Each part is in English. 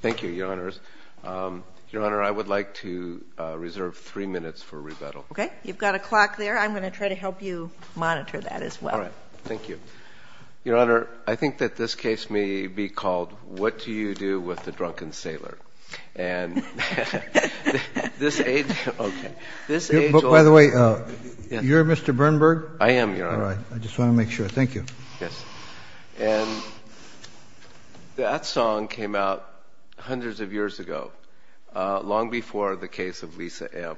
Thank you, Your Honors. Your Honor, I would like to reserve three minutes for rebuttal. Okay. You've got a clock there. I'm going to try to help you monitor that as well. All right. Thank you. Your Honor, I think that this case may be called What Do You Do With a Drunken Sailor? And this age... Okay. This age old... By the way, you're Mr. Bernberg? I am, Your Honor. All right. I just want to make sure. Thank you. Yes. And that song came out hundreds of years ago, long before the case of Lisa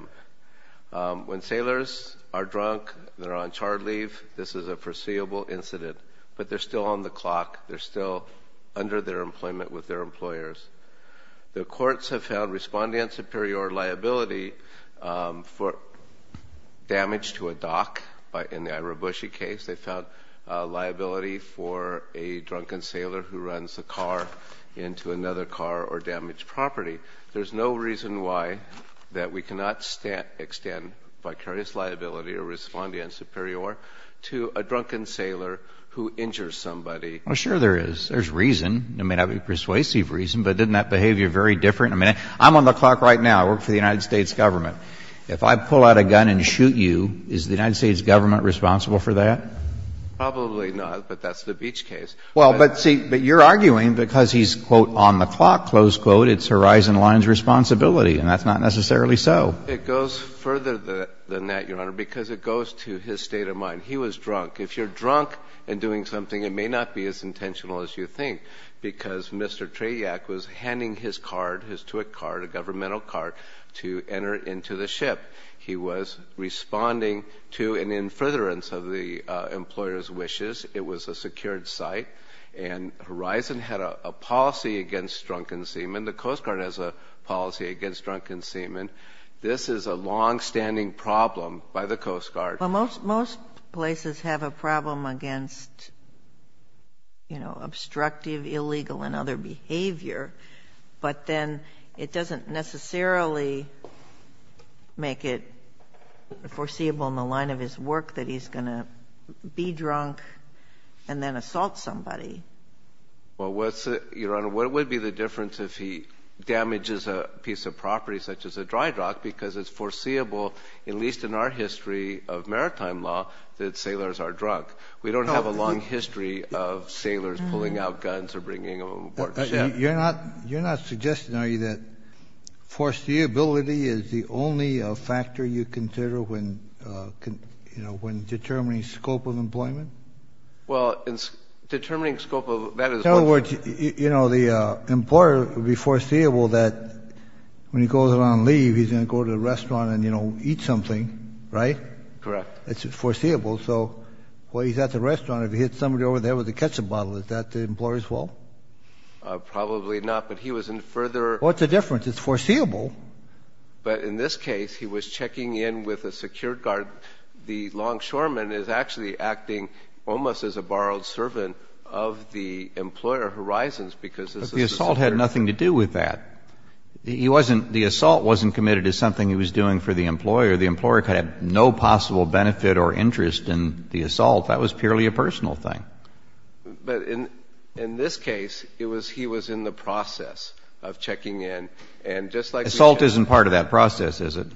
M. When sailors are drunk, they're on chard leave. This is a foreseeable incident. But they're still on the clock. They're still under their employment with their employers. The courts have found respondent superior liability for damage to a dock. In the Ira Bushey case, they found liability for a drunken sailor who runs a car into another car or damaged property. There's no reason why that we cannot extend vicarious liability or respondent superior to a drunken sailor who injures somebody. Well, sure there is. There's reason. There may not be persuasive reason, but isn't that behavior very different? I mean, I'm on the clock right now. I work for the United States government. If I pull out a gun and shoot you, is the United States government responsible for that? Probably not, but that's the Beach case. Well, but see, but you're arguing because he's, quote, on the clock, close quote, it's Horizon Line's responsibility. And that's not necessarily so. It goes further than that, Your Honor, because it goes to his state of mind. He was drunk. If you're drunk and doing something, it may not be as intentional as you think, because Mr. Trediak was handing his card, his tuit card, a governmental card, to enter into the ship. He was responding to an in furtherance of the employer's wishes. It was a secured site, and Horizon had a policy against drunken seamen. The Coast Guard has a policy against drunken seamen. This is a longstanding problem by the Coast Guard. Well, most places have a problem against, you know, obstructive, illegal, and other behavior. But then it doesn't necessarily make it foreseeable in the line of his work that he's going to be drunk and then assault somebody. Well, Your Honor, what would be the difference if he damages a piece of property, such as a dry dock, because it's foreseeable, at least in our history of maritime law, that sailors are drunk. We don't have a long history of sailors pulling out guns or bringing them aboard the ship. You're not suggesting, are you, that foreseeability is the only factor you consider when, you know, when determining scope of employment? Well, in determining scope of – that is what – You know, the employer would be foreseeable that when he goes on leave, he's going to go to a restaurant and, you know, eat something, right? Correct. It's foreseeable. So while he's at the restaurant, if he hits somebody over there with a ketchup bottle, is that the employer's fault? Probably not, but he was in further – What's the difference? It's foreseeable. But in this case, he was checking in with a secured guard. The longshoreman is actually acting almost as a borrowed servant of the employer, Horizons, because this is a secured – But the assault had nothing to do with that. He wasn't – the assault wasn't committed as something he was doing for the employer. The employer could have no possible benefit or interest in the assault. That was purely a personal thing. But in this case, it was – he was in the process of checking in, and just like – Assault isn't part of that process, is it?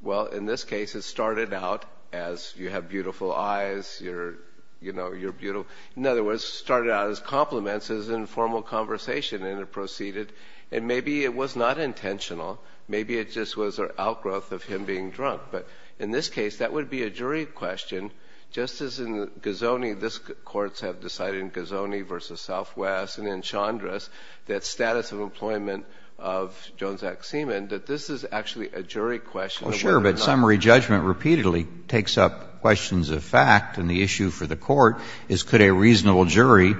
Well, in this case, it started out as you have beautiful eyes, you're, you know, you're beautiful. In other words, it started out as compliments, as informal conversation, and it proceeded. And maybe it was not intentional. Maybe it just was an outgrowth of him being drunk. But in this case, that would be a jury question. Just as in Gozoni, this – courts have decided in Gozoni v. Southwest and in Chandra's, that status of employment of Jones Act seaman, that this is actually a jury question. Well, sure. But summary judgment repeatedly takes up questions of fact, and the issue for the court is could a reasonable jury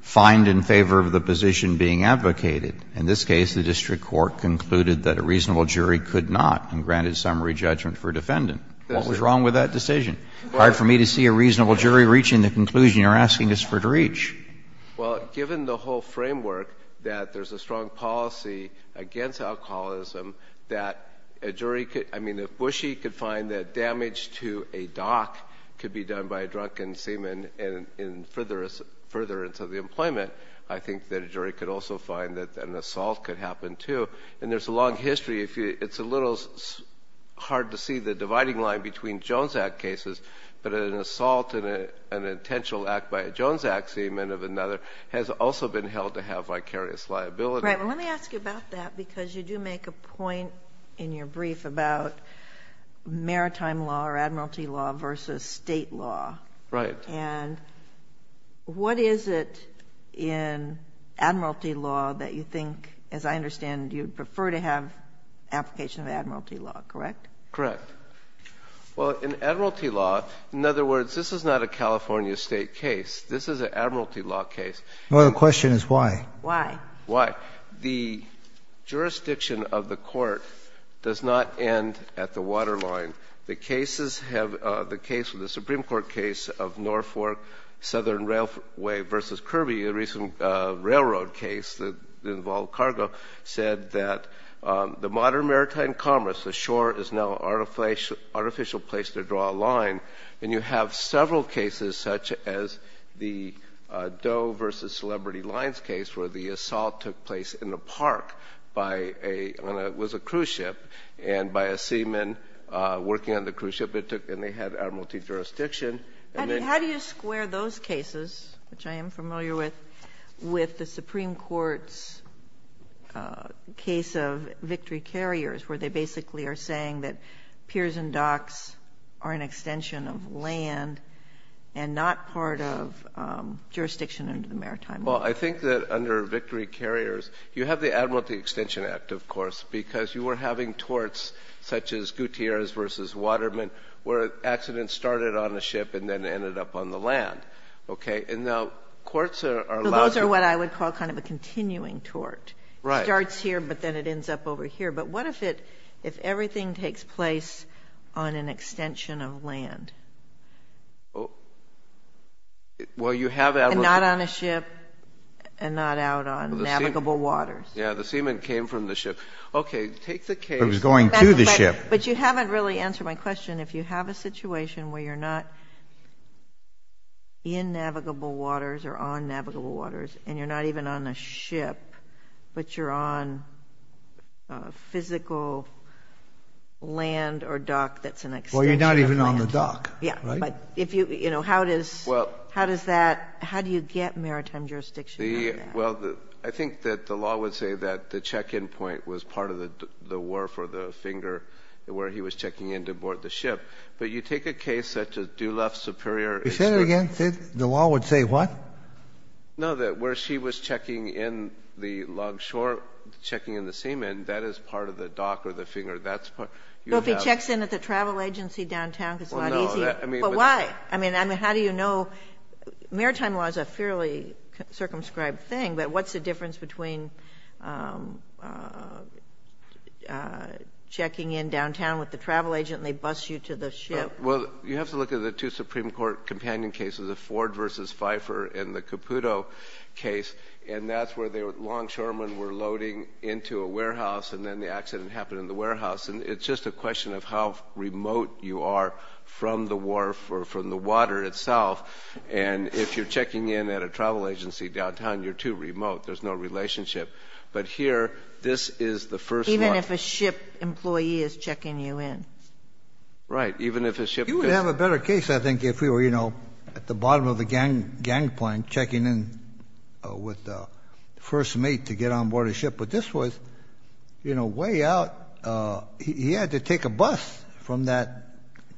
find in favor of the position being advocated? In this case, the district court concluded that a reasonable jury could not, and granted summary judgment for defendant. What was wrong with that decision? Hard for me to see a reasonable jury reaching the conclusion you're asking us for to reach. Well, given the whole framework, that there's a strong policy against alcoholism, that a jury could – I mean, if Bushy could find that damage to a doc could be done by a drunken seaman further into the employment, I think that a jury could also find that an assault could happen, too. And there's a long history. It's a little hard to see the dividing line between Jones Act cases, but an assault in an intentional act by a Jones Act seaman of another has also been held to have vicarious liability. Right. Well, let me ask you about that because you do make a point in your brief about maritime law or admiralty law versus state law. Right. And what is it in admiralty law that you think, as I understand, you'd prefer to have application of admiralty law, correct? Correct. Well, in admiralty law, in other words, this is not a California state case. This is an admiralty law case. Well, the question is why. Why. Why. The jurisdiction of the court does not end at the waterline. The cases have – the case of the Supreme Court case of Norfolk Southern Railway versus Kirby, a recent railroad case that involved cargo, said that the modern maritime commerce, the shore is now an artificial place to draw a line, and you have several cases such as the Doe versus Celebrity Lines case where the assault took place in a park by a – it was a cruise ship, and by a seaman working on the cruise ship, and they had admiralty jurisdiction. How do you square those cases, which I am familiar with, with the Supreme Court's case of Victory Carriers, where they basically are saying that piers and docks are an extension of land and not part of jurisdiction under the maritime law? Well, I think that under Victory Carriers you have the Admiralty Extension Act, of course, because you were having torts such as Gutierrez versus Waterman where an accident started on a ship and then ended up on the land. Okay? And now courts are allowed to – Those are what I would call kind of a continuing tort. Right. It starts here, but then it ends up over here. But what if it – if everything takes place on an extension of land? Well, you have Admiralty – And not on a ship and not out on navigable waters. Yeah, the seaman came from the ship. Okay, take the case – It was going to the ship. But you haven't really answered my question. If you have a situation where you're not in navigable waters or on navigable waters and you're not even on a ship, but you're on physical land or dock that's an extension of land. Well, you're not even on the dock. Yeah. Right? But if you – how does that – how do you get maritime jurisdiction on that? Well, I think that the law would say that the check-in point was part of the wharf or the finger where he was checking in to board the ship. But you take a case such as Dulef Superior – Say that again? The law would say what? No, that where she was checking in the longshore, checking in the seamen, that is part of the dock or the finger. That's part – So if he checks in at the travel agency downtown because it's not easy. Well, no. But why? I mean, how do you know – maritime law is a fairly circumscribed thing, but what's the difference between checking in downtown with the travel agent and they bus you to the ship? Well, you have to look at the two Supreme Court companion cases, the Ford v. Pfeiffer and the Caputo case, and that's where the longshoremen were loading into a warehouse and then the accident happened in the warehouse. And it's just a question of how remote you are from the wharf or from the water itself. And if you're checking in at a travel agency downtown, you're too remote. There's no relationship. But here, this is the first one. Even if a ship employee is checking you in. Right, even if a ship – You would have a better case, I think, if we were, you know, at the bottom of the gangplank checking in with the first mate to get on board a ship. But this was, you know, way out. He had to take a bus from that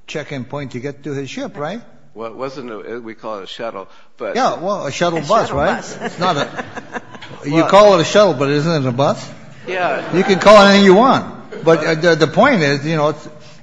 check-in point to get to his ship, right? It wasn't a – we call it a shuttle. Yeah, well, a shuttle bus, right? It's not a – you call it a shuttle, but isn't it a bus? You can call it anything you want. But the point is, you know,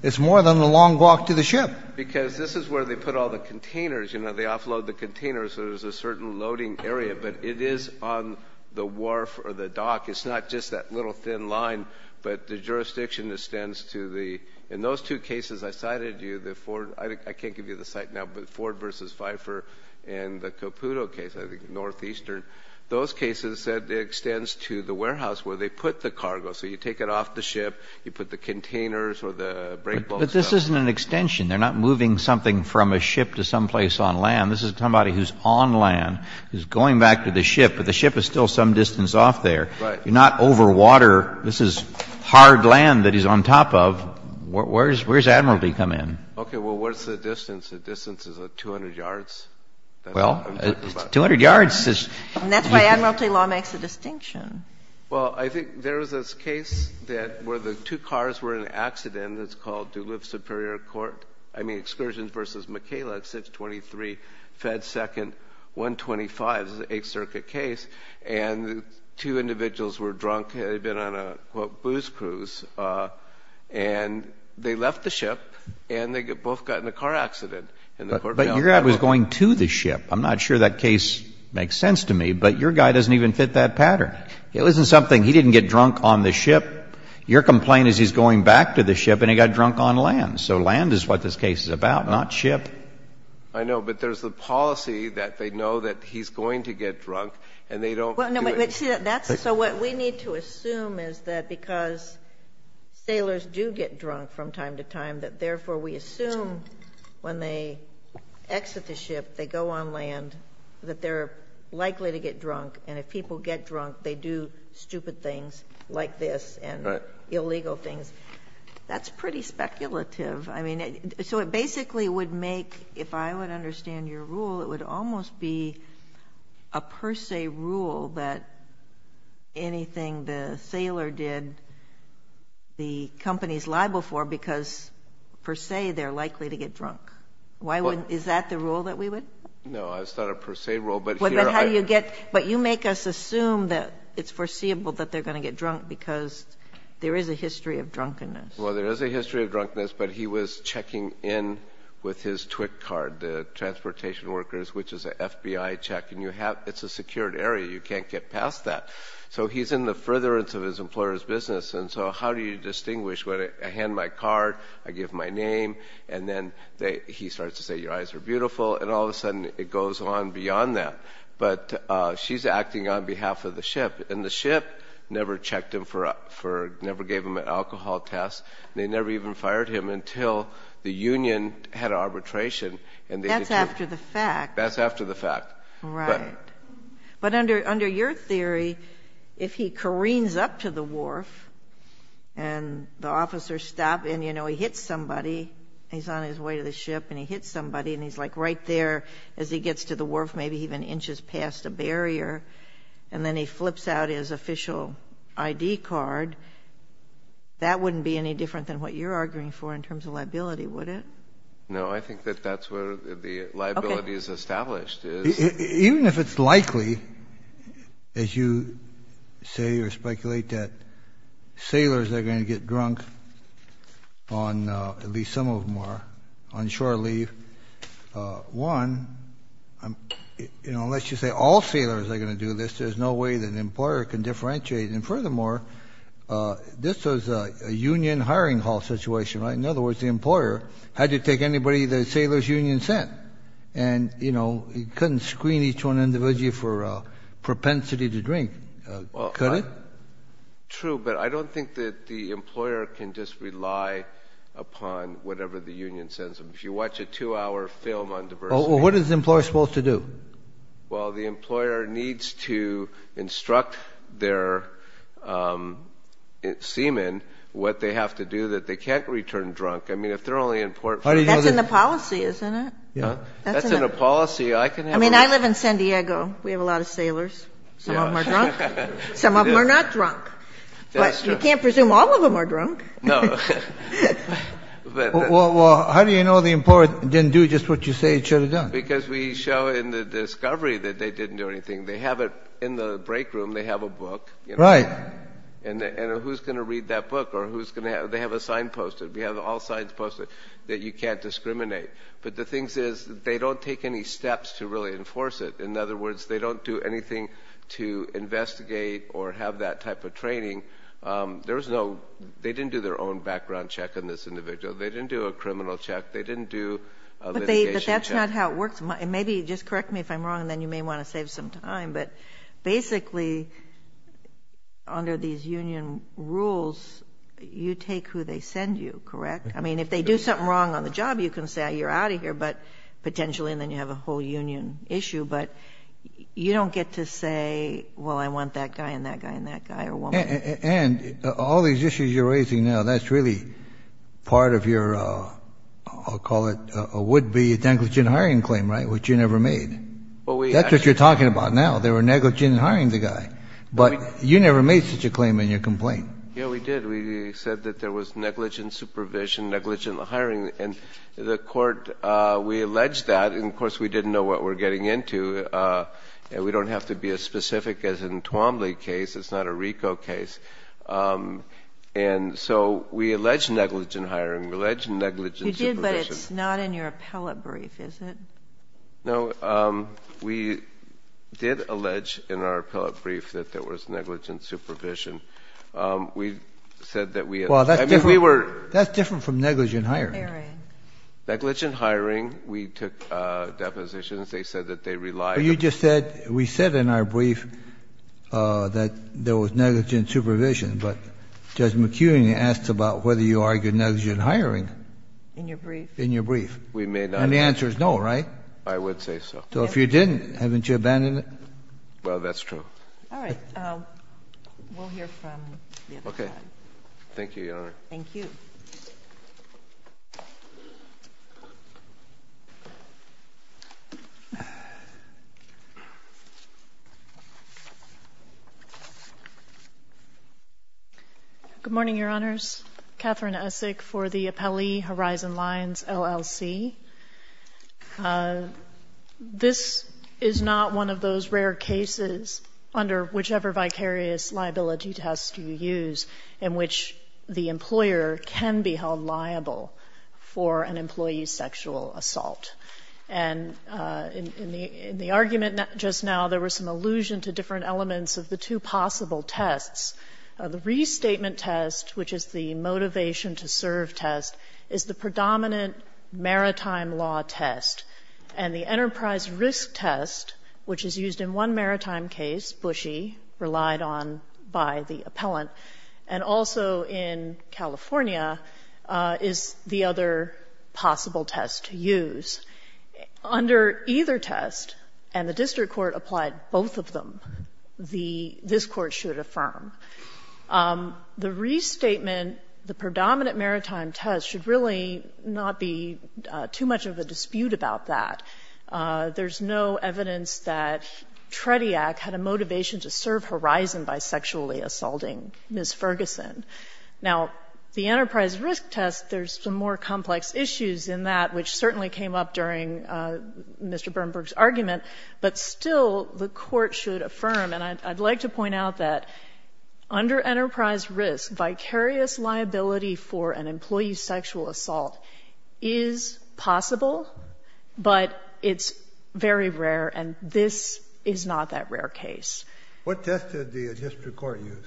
it's more than a long walk to the ship. Because this is where they put all the containers. You know, they offload the containers, so there's a certain loading area. But it is on the wharf or the dock. It's not just that little thin line. But the jurisdiction extends to the – in those two cases I cited to you, the Ford – I can't give you the site now, but Ford v. Pfeiffer and the Caputo case, I think, northeastern, those cases it extends to the warehouse where they put the cargo. So you take it off the ship, you put the containers or the brake boats up. But this isn't an extension. They're not moving something from a ship to someplace on land. This is somebody who's on land, who's going back to the ship, but the ship is still some distance off there. Right. You're not over water. This is hard land that he's on top of. Well, where does Admiralty come in? Okay, well, what's the distance? The distance is, like, 200 yards. Well, 200 yards is – And that's why Admiralty law makes a distinction. Well, I think there is this case that where the two cars were in an accident. It's called Duluth Superior Court – I mean, Excursions v. McKayla at 623 Fed Second 125. This is an Eighth Circuit case. And the two individuals were drunk. They'd been on a, quote, booze cruise. And they left the ship, and they both got in a car accident. But your guy was going to the ship. I'm not sure that case makes sense to me, but your guy doesn't even fit that pattern. It wasn't something – he didn't get drunk on the ship. Your complaint is he's going back to the ship, and he got drunk on land. So land is what this case is about, not ship. I know, but there's the policy that they know that he's going to get drunk, and they don't do it. So what we need to assume is that because sailors do get drunk from time to time, that therefore we assume when they exit the ship, they go on land, that they're likely to get drunk. And if people get drunk, they do stupid things like this and illegal things. That's pretty speculative. So it basically would make – if I would understand your rule, it would almost be a per se rule that anything the sailor did, the companies liable for, because per se they're likely to get drunk. Why wouldn't – is that the rule that we would? No, it's not a per se rule, but here I – But how do you get – but you make us assume that it's foreseeable that they're going to get drunk because there is a history of drunkenness. Well, there is a history of drunkenness, but he was checking in with his TWIC card, the Transportation Workers, which is an FBI check, and you have – it's a secured area. You can't get past that. So he's in the furtherance of his employer's business, and so how do you distinguish? I hand my card, I give my name, and then he starts to say, your eyes are beautiful, and all of a sudden it goes on beyond that. But she's acting on behalf of the ship, and the ship never checked him for – never gave him an alcohol test. They never even fired him until the union had arbitration. That's after the fact. That's after the fact. Right. But under your theory, if he careens up to the wharf and the officers stop, and, you know, he hits somebody, he's on his way to the ship, and he hits somebody, and he's like right there as he gets to the wharf, maybe even inches past a barrier, and then he flips out his official ID card, that wouldn't be any different than what you're arguing for in terms of liability, would it? No, I think that that's where the liability is established. Even if it's likely, as you say or speculate, that sailors are going to get drunk on – at least some of them are – on shore leave, one, you know, unless you say all sailors are going to do this, there's no way that an employer can differentiate. And furthermore, this was a union hiring hall situation, right? In other words, the employer had to take anybody the sailors' union sent, and, you know, he couldn't screen each one individually for propensity to drink, could he? True, but I don't think that the employer can just rely upon whatever the union sends them. If you watch a two-hour film on diversity – Well, what is the employer supposed to do? Well, the employer needs to instruct their seamen what they have to do that they can't return drunk. I mean, if they're only in port – That's in the policy, isn't it? Yeah. That's in a policy I can have – I mean, I live in San Diego. We have a lot of sailors. Some of them are drunk. Some of them are not drunk. But you can't presume all of them are drunk. No. Well, how do you know the employer didn't do just what you say he should have done? Because we show in the discovery that they didn't do anything. They have it in the break room. They have a book. Right. And who's going to read that book? Or who's going to – they have a sign posted. We have all signs posted that you can't discriminate. But the thing is they don't take any steps to really enforce it. In other words, they don't do anything to investigate or have that type of training. There is no – they didn't do their own background check on this individual. They didn't do a criminal check. They didn't do a litigation check. But that's not how it works. Maybe just correct me if I'm wrong, and then you may want to save some time. But basically, under these union rules, you take who they send you, correct? I mean, if they do something wrong on the job, you can say, you're out of here, potentially, and then you have a whole union issue. But you don't get to say, well, I want that guy and that guy and that guy or woman. And all these issues you're raising now, that's really part of your – I'll call it a would-be negligent hiring claim, right, which you never made? That's what you're talking about now. They were negligent in hiring the guy. But you never made such a claim in your complaint. Yeah, we did. We said that there was negligent supervision, negligent hiring. And the court – we alleged that. And, of course, we didn't know what we were getting into. We don't have to be as specific as in Twombly case. It's not a RICO case. And so we alleged negligent hiring. We alleged negligent supervision. You did, but it's not in your appellate brief, is it? No. We did allege in our appellate brief that there was negligent supervision. We said that we – Well, that's different from negligent hiring. Negligent hiring, we took depositions. They said that they relied – Well, you just said – we said in our brief that there was negligent supervision. But Judge McEwen asked about whether you argued negligent hiring. In your brief? In your brief. We may not have. And the answer is no, right? I would say so. So if you didn't, haven't you abandoned it? Well, that's true. All right. We'll hear from the other side. Okay. Thank you, Your Honor. Thank you. Good morning, Your Honors. Katherine Essek for the Appellee Horizon Lines, LLC. This is not one of those rare cases under whichever vicarious liability test you use in which the employer can be held liable for an employee's sexual assault. And in the argument just now, there was some allusion to different elements of the two possible tests. The restatement test, which is the motivation-to-serve test, is the predominant maritime law test. And the enterprise risk test, which is used in one maritime case, Bushy, relied on by the appellant, and also in California, is the other possible test to use. Under either test, and the district court applied both of them, the — this Court should affirm, the restatement, the predominant maritime test should really not be too much of a dispute about that. There's no evidence that Trediac had a motivation-to-serve horizon by sexually assaulting Ms. Ferguson. Now, the enterprise risk test, there's some more complex issues in that, which certainly came up during Mr. Bernberg's argument. But still, the Court should affirm, and I'd like to point out that under enterprise risk, vicarious liability for an employee's sexual assault is possible, but it's very rare, and this is not that rare case. What test did the district court use?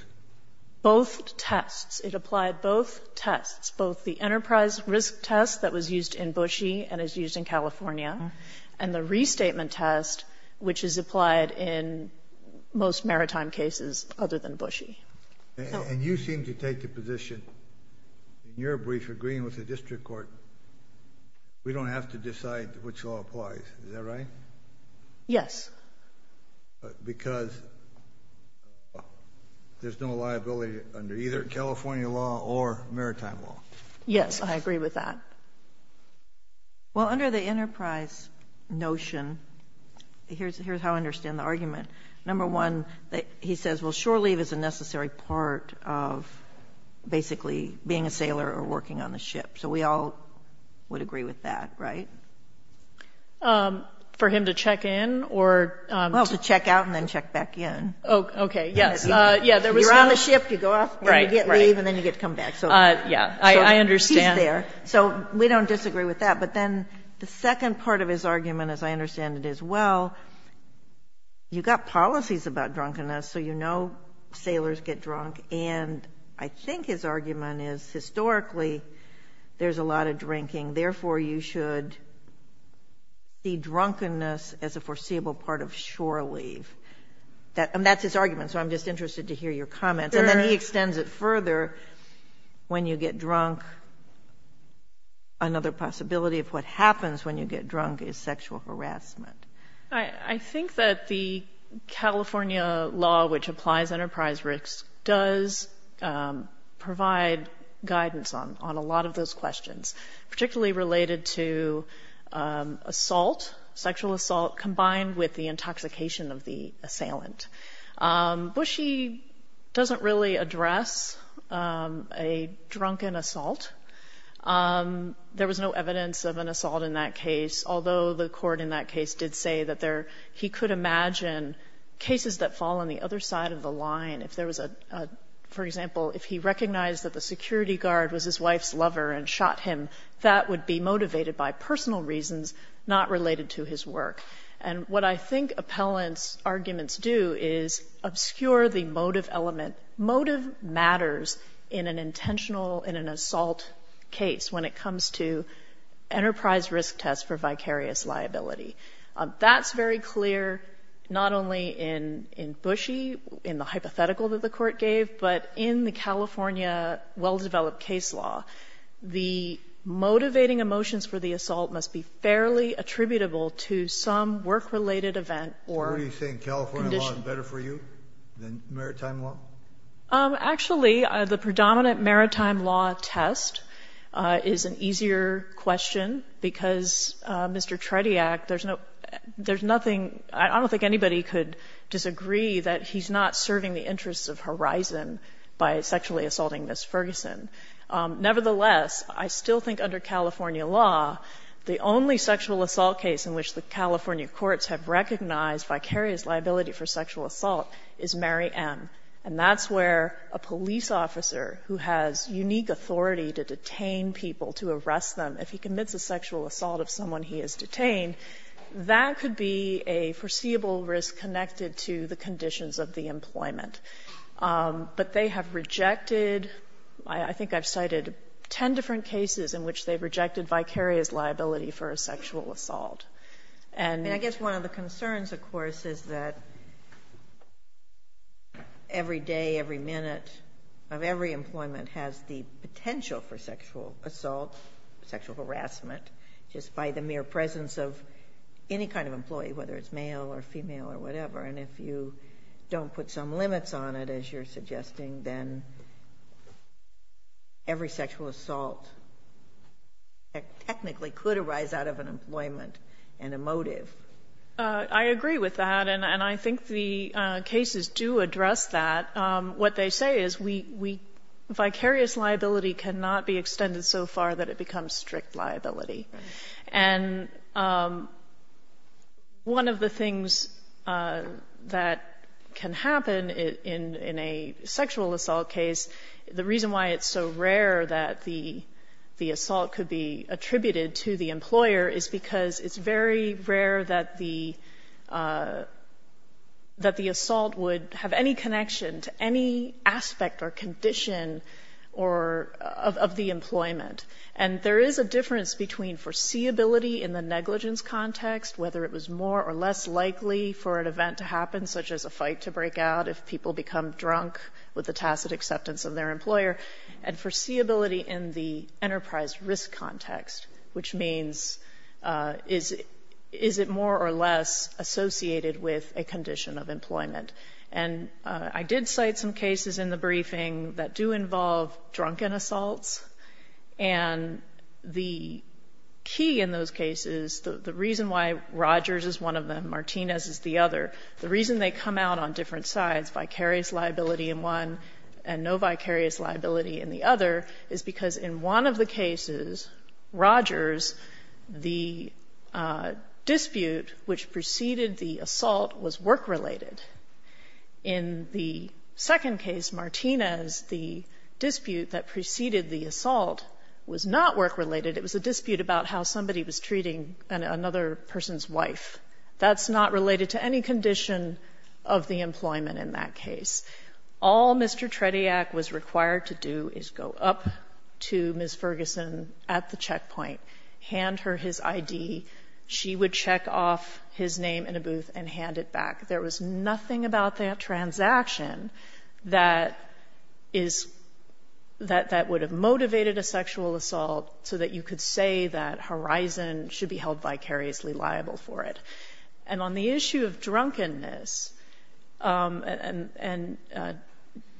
Both tests. It applied both tests, both the enterprise risk test that was used in Bushy and is used in California, and the restatement test, which is applied in most maritime cases other than Bushy. And you seem to take the position, in your brief, agreeing with the district court, we don't have to decide which law applies. Is that right? Yes. Because there's no liability under either California law or maritime law. Yes, I agree with that. Well, under the enterprise notion, here's how I understand the argument. Number one, he says, well, shore leave is a necessary part of basically being a sailor or working on a ship. So we all would agree with that, right? For him to check in? Well, to check out and then check back in. Okay, yes. You're on the ship, you go off, you get leave, and then you get to come back. Yeah, I understand. So he's there. So we don't disagree with that. But then the second part of his argument, as I understand it, is, well, you've got policies about drunkenness, so you know sailors get drunk, and I think his argument then is historically there's a lot of drinking, therefore you should see drunkenness as a foreseeable part of shore leave. And that's his argument, so I'm just interested to hear your comments. And then he extends it further. When you get drunk, another possibility of what happens when you get drunk is sexual harassment. I think that the California law, which applies enterprise risk, does provide guidance on a lot of those questions, particularly related to assault, sexual assault, combined with the intoxication of the assailant. Bushy doesn't really address a drunken assault. There was no evidence of an assault in that case, although the court in that case did say that he could imagine cases that fall on the other side of the line. For example, if he recognized that the security guard was his wife's lover and shot him, that would be motivated by personal reasons not related to his work. And what I think appellants' arguments do is obscure the motive element. Motive matters in an intentional, in an assault case when it comes to enterprise risk test for vicarious liability. That's very clear not only in Bushy, in the hypothetical that the court gave, but in the California well-developed case law. The motivating emotions for the assault must be fairly attributable to some work-related event or condition. Sotomayor, is maritime law better for you than maritime law? Actually, the predominant maritime law test is an easier question, because, Mr. Trediac, there's no – there's nothing – I don't think anybody could disagree that he's not serving the interests of Horizon by sexually assaulting Ms. Ferguson. Nevertheless, I still think under California law, the only sexual assault case in which the California courts have recognized vicarious liability for sexual assault is Mary M., and that's where a police officer who has unique authority to detain people, to arrest them, if he commits a sexual assault of someone he has detained, that could be a foreseeable risk connected to the conditions of the employment. But they have rejected – I think I've cited 10 different cases in which they've recognized vicarious liability for a sexual assault. And I guess one of the concerns, of course, is that every day, every minute of every employment has the potential for sexual assault, sexual harassment, just by the mere presence of any kind of employee, whether it's male or female or whatever, and if you don't put some limits on it, as you're suggesting, then every sexual assault technically could arise out of an employment and a motive. I agree with that, and I think the cases do address that. What they say is we – vicarious liability cannot be extended so far that it becomes strict liability. And one of the things that can happen in a sexual assault case, the reason why it's so rare that the assault could be attributed to the employer is because it's very rare that the assault would have any connection to any aspect or condition of the employment. And there is a difference between foreseeability in the negligence context, whether it was more or less likely for an event to happen, such as a fight to break out if people become drunk with the tacit acceptance of their employer, and foreseeability in the enterprise risk context, which means is it more or less associated with a condition of employment. And I did cite some cases in the briefing that do involve drunken assaults, and the key in those cases, the reason why Rogers is one of them, Martinez is the other, the reason they come out on different sides, vicarious liability in one and no vicarious liability in the other, is because in one of the cases, Rogers, the dispute which preceded the assault was work-related. In the second case, Martinez, the dispute that preceded the assault was not work-related. It was a dispute about how somebody was treating another person's wife. That's not related to any condition of the employment in that case. All Mr. Trediak was required to do is go up to Ms. Ferguson at the checkpoint, hand her his ID, she would check off his name in a booth and hand it back. There was nothing about that transaction that is, that would have motivated a sexual assault so that you could say that Horizon should be held vicariously liable for it. And on the issue of drunkenness, and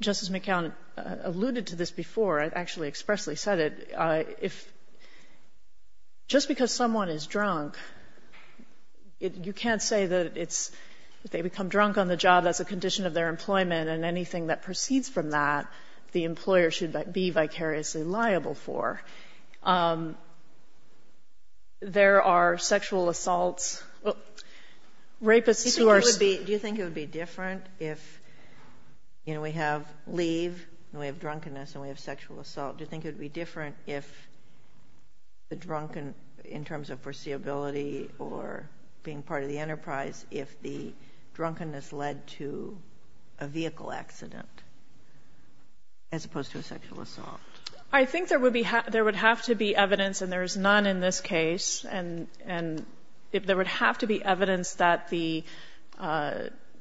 Justice McCown alluded to this before, I've actually Just because someone is drunk, you can't say that they become drunk on the job as a condition of their employment and anything that proceeds from that, the employer should be vicariously liable for. There are sexual assaults, rapists who are Do you think it would be different if we have leave and we have drunkenness and we have sexual assault? Do you think it would be different if the drunken, in terms of foreseeability or being part of the enterprise, if the drunkenness led to a vehicle accident as opposed to a sexual assault? I think there would have to be evidence, and there is none in this case, and there would have to be evidence that the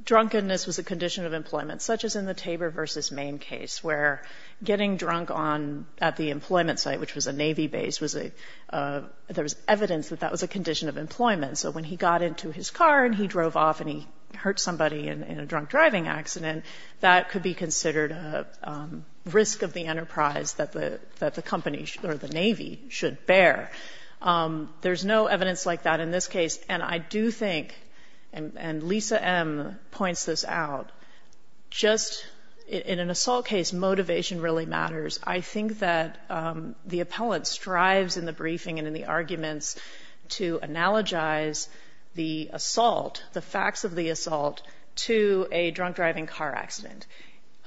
drunkenness was a condition of employment, such as in the at the employment site, which was a Navy base, there was evidence that that was a condition of employment. So when he got into his car and he drove off and he hurt somebody in a drunk driving accident, that could be considered a risk of the enterprise that the company or the Navy should bear. There's no evidence like that in this case, and I do think, and Lisa M. points this out, just in an assault case, motivation really matters. I think that the appellant strives in the briefing and in the arguments to analogize the assault, the facts of the assault, to a drunk driving car accident.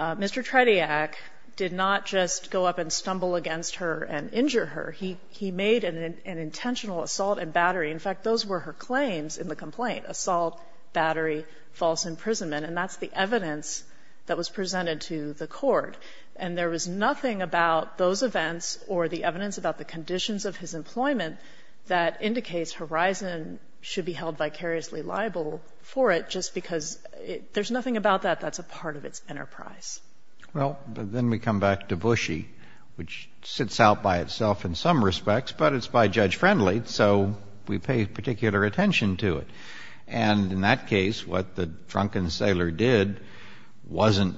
Mr. Trediak did not just go up and stumble against her and injure her. He made an intentional assault and battery. In fact, those were her claims in the complaint, assault, battery, false imprisonment. And that's the evidence that was presented to the court. And there was nothing about those events or the evidence about the conditions of his employment that indicates Horizon should be held vicariously liable for it just because there's nothing about that that's a part of its enterprise. Well, then we come back to Bushey, which sits out by itself in some respects, but it's by Judge Friendly, so we pay particular attention to it. And in that case, what the drunken sailor did wasn't,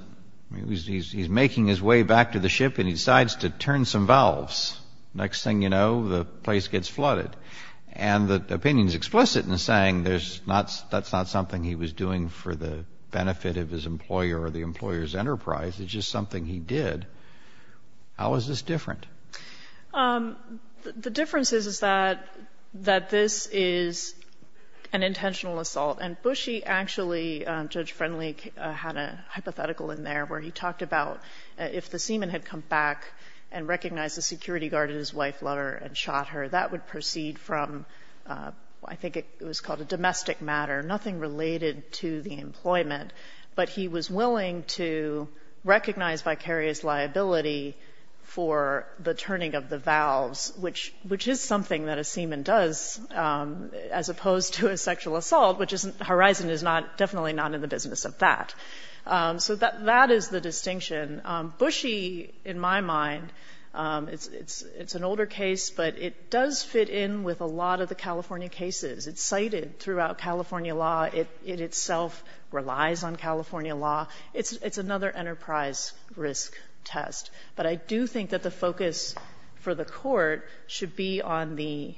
he's making his way back to the ship and he decides to turn some valves. Next thing you know, the place gets flooded. And the opinion is explicit in saying there's not, that's not something he was doing for the benefit of his employer or the employer's enterprise. It's just something he did. How is this different? The difference is that this is an intentional assault. And Bushey actually, Judge Friendly had a hypothetical in there where he talked about if the seaman had come back and recognized the security guard and his wife, Lutter, and shot her, that would proceed from, I think it was called a domestic matter, nothing related to the employment. But he was willing to recognize vicarious liability for the turning of the valves, which is something that a seaman does as opposed to a sexual assault, which Horizon is definitely not in the business of that. So that is the distinction. Bushey, in my mind, it's an older case, but it does fit in with a lot of the California cases. It's cited throughout California law. It itself relies on California law. It's another enterprise risk test. But I do think that the focus for the Court should be on the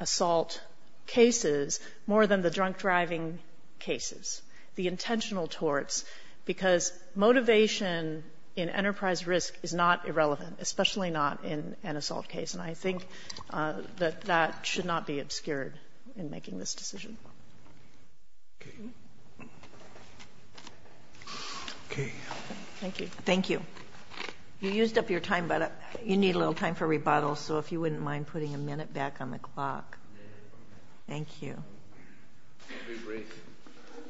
assault cases more than the drunk driving cases, the intentional torts, because motivation in enterprise risk is not irrelevant, especially not in an assault case. And I think that that should not be obscured in making this decision. Okay. Okay. Thank you. Thank you. You used up your time, but you need a little time for rebuttal, so if you wouldn't mind putting a minute back on the clock. A minute. Thank you.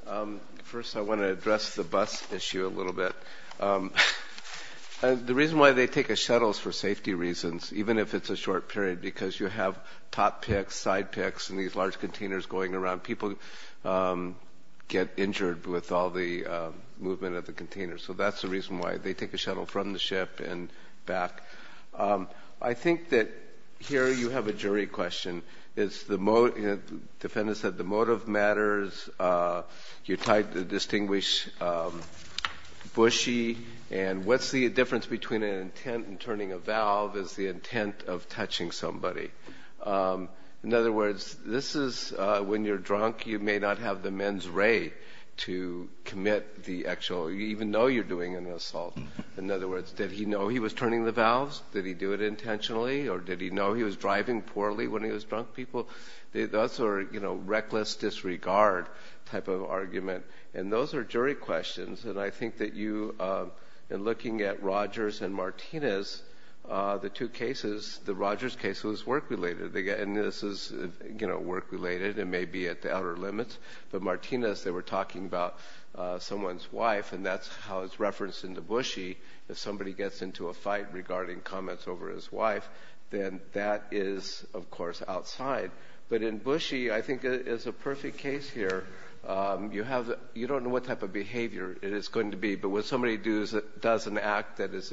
I'll be brief. First, I want to address the bus issue a little bit. The reason why they take a shuttle is for safety reasons, even if it's a short period, because you have top picks, side picks, and these large containers going around. People get injured with all the movement of the containers, so that's the reason why they take a shuttle from the ship and back. I think that here you have a jury question. The defendant said the motive matters. You tried to distinguish Bushy. And what's the difference between an intent and turning a valve as the intent of touching somebody? In other words, this is when you're drunk, you may not have the men's ray to commit the actual, even though you're doing an assault. In other words, did he know he was turning the valves? Did he do it intentionally? Or did he know he was driving poorly when he was drunk? People, those are, you know, reckless disregard type of argument. And those are jury questions. And I think that you, in looking at Rogers and Martinez, the two cases, the Rogers case was work-related, and this is, you know, work-related. It may be at the outer limits. But Martinez, they were talking about someone's wife, and that's how it's referenced into Bushy. If somebody gets into a fight regarding comments over his wife, then that is, of course, outside. But in Bushy, I think it's a perfect case here. You don't know what type of behavior. It is going to be. But when somebody does an act that is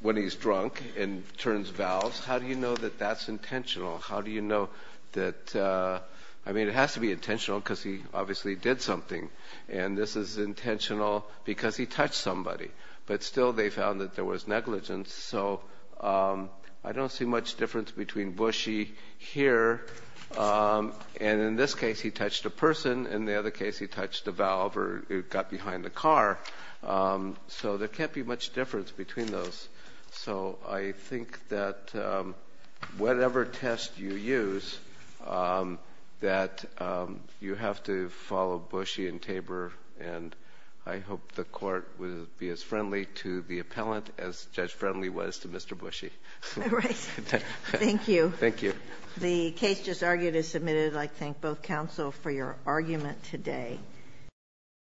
when he's drunk and turns valves, how do you know that that's intentional? How do you know that, I mean, it has to be intentional because he obviously did something. And this is intentional because he touched somebody. But still they found that there was negligence. So I don't see much difference between Bushy here. And in this case, he touched a person. In the other case, he touched a valve or got behind a car. So there can't be much difference between those. So I think that whatever test you use, that you have to follow Bushy and Tabor, and I hope the Court will be as friendly to the appellant as Judge Friendly was to Mr. Bushy. Right. Thank you. Thank you. The case just argued is submitted. I thank both counsel for your argument today.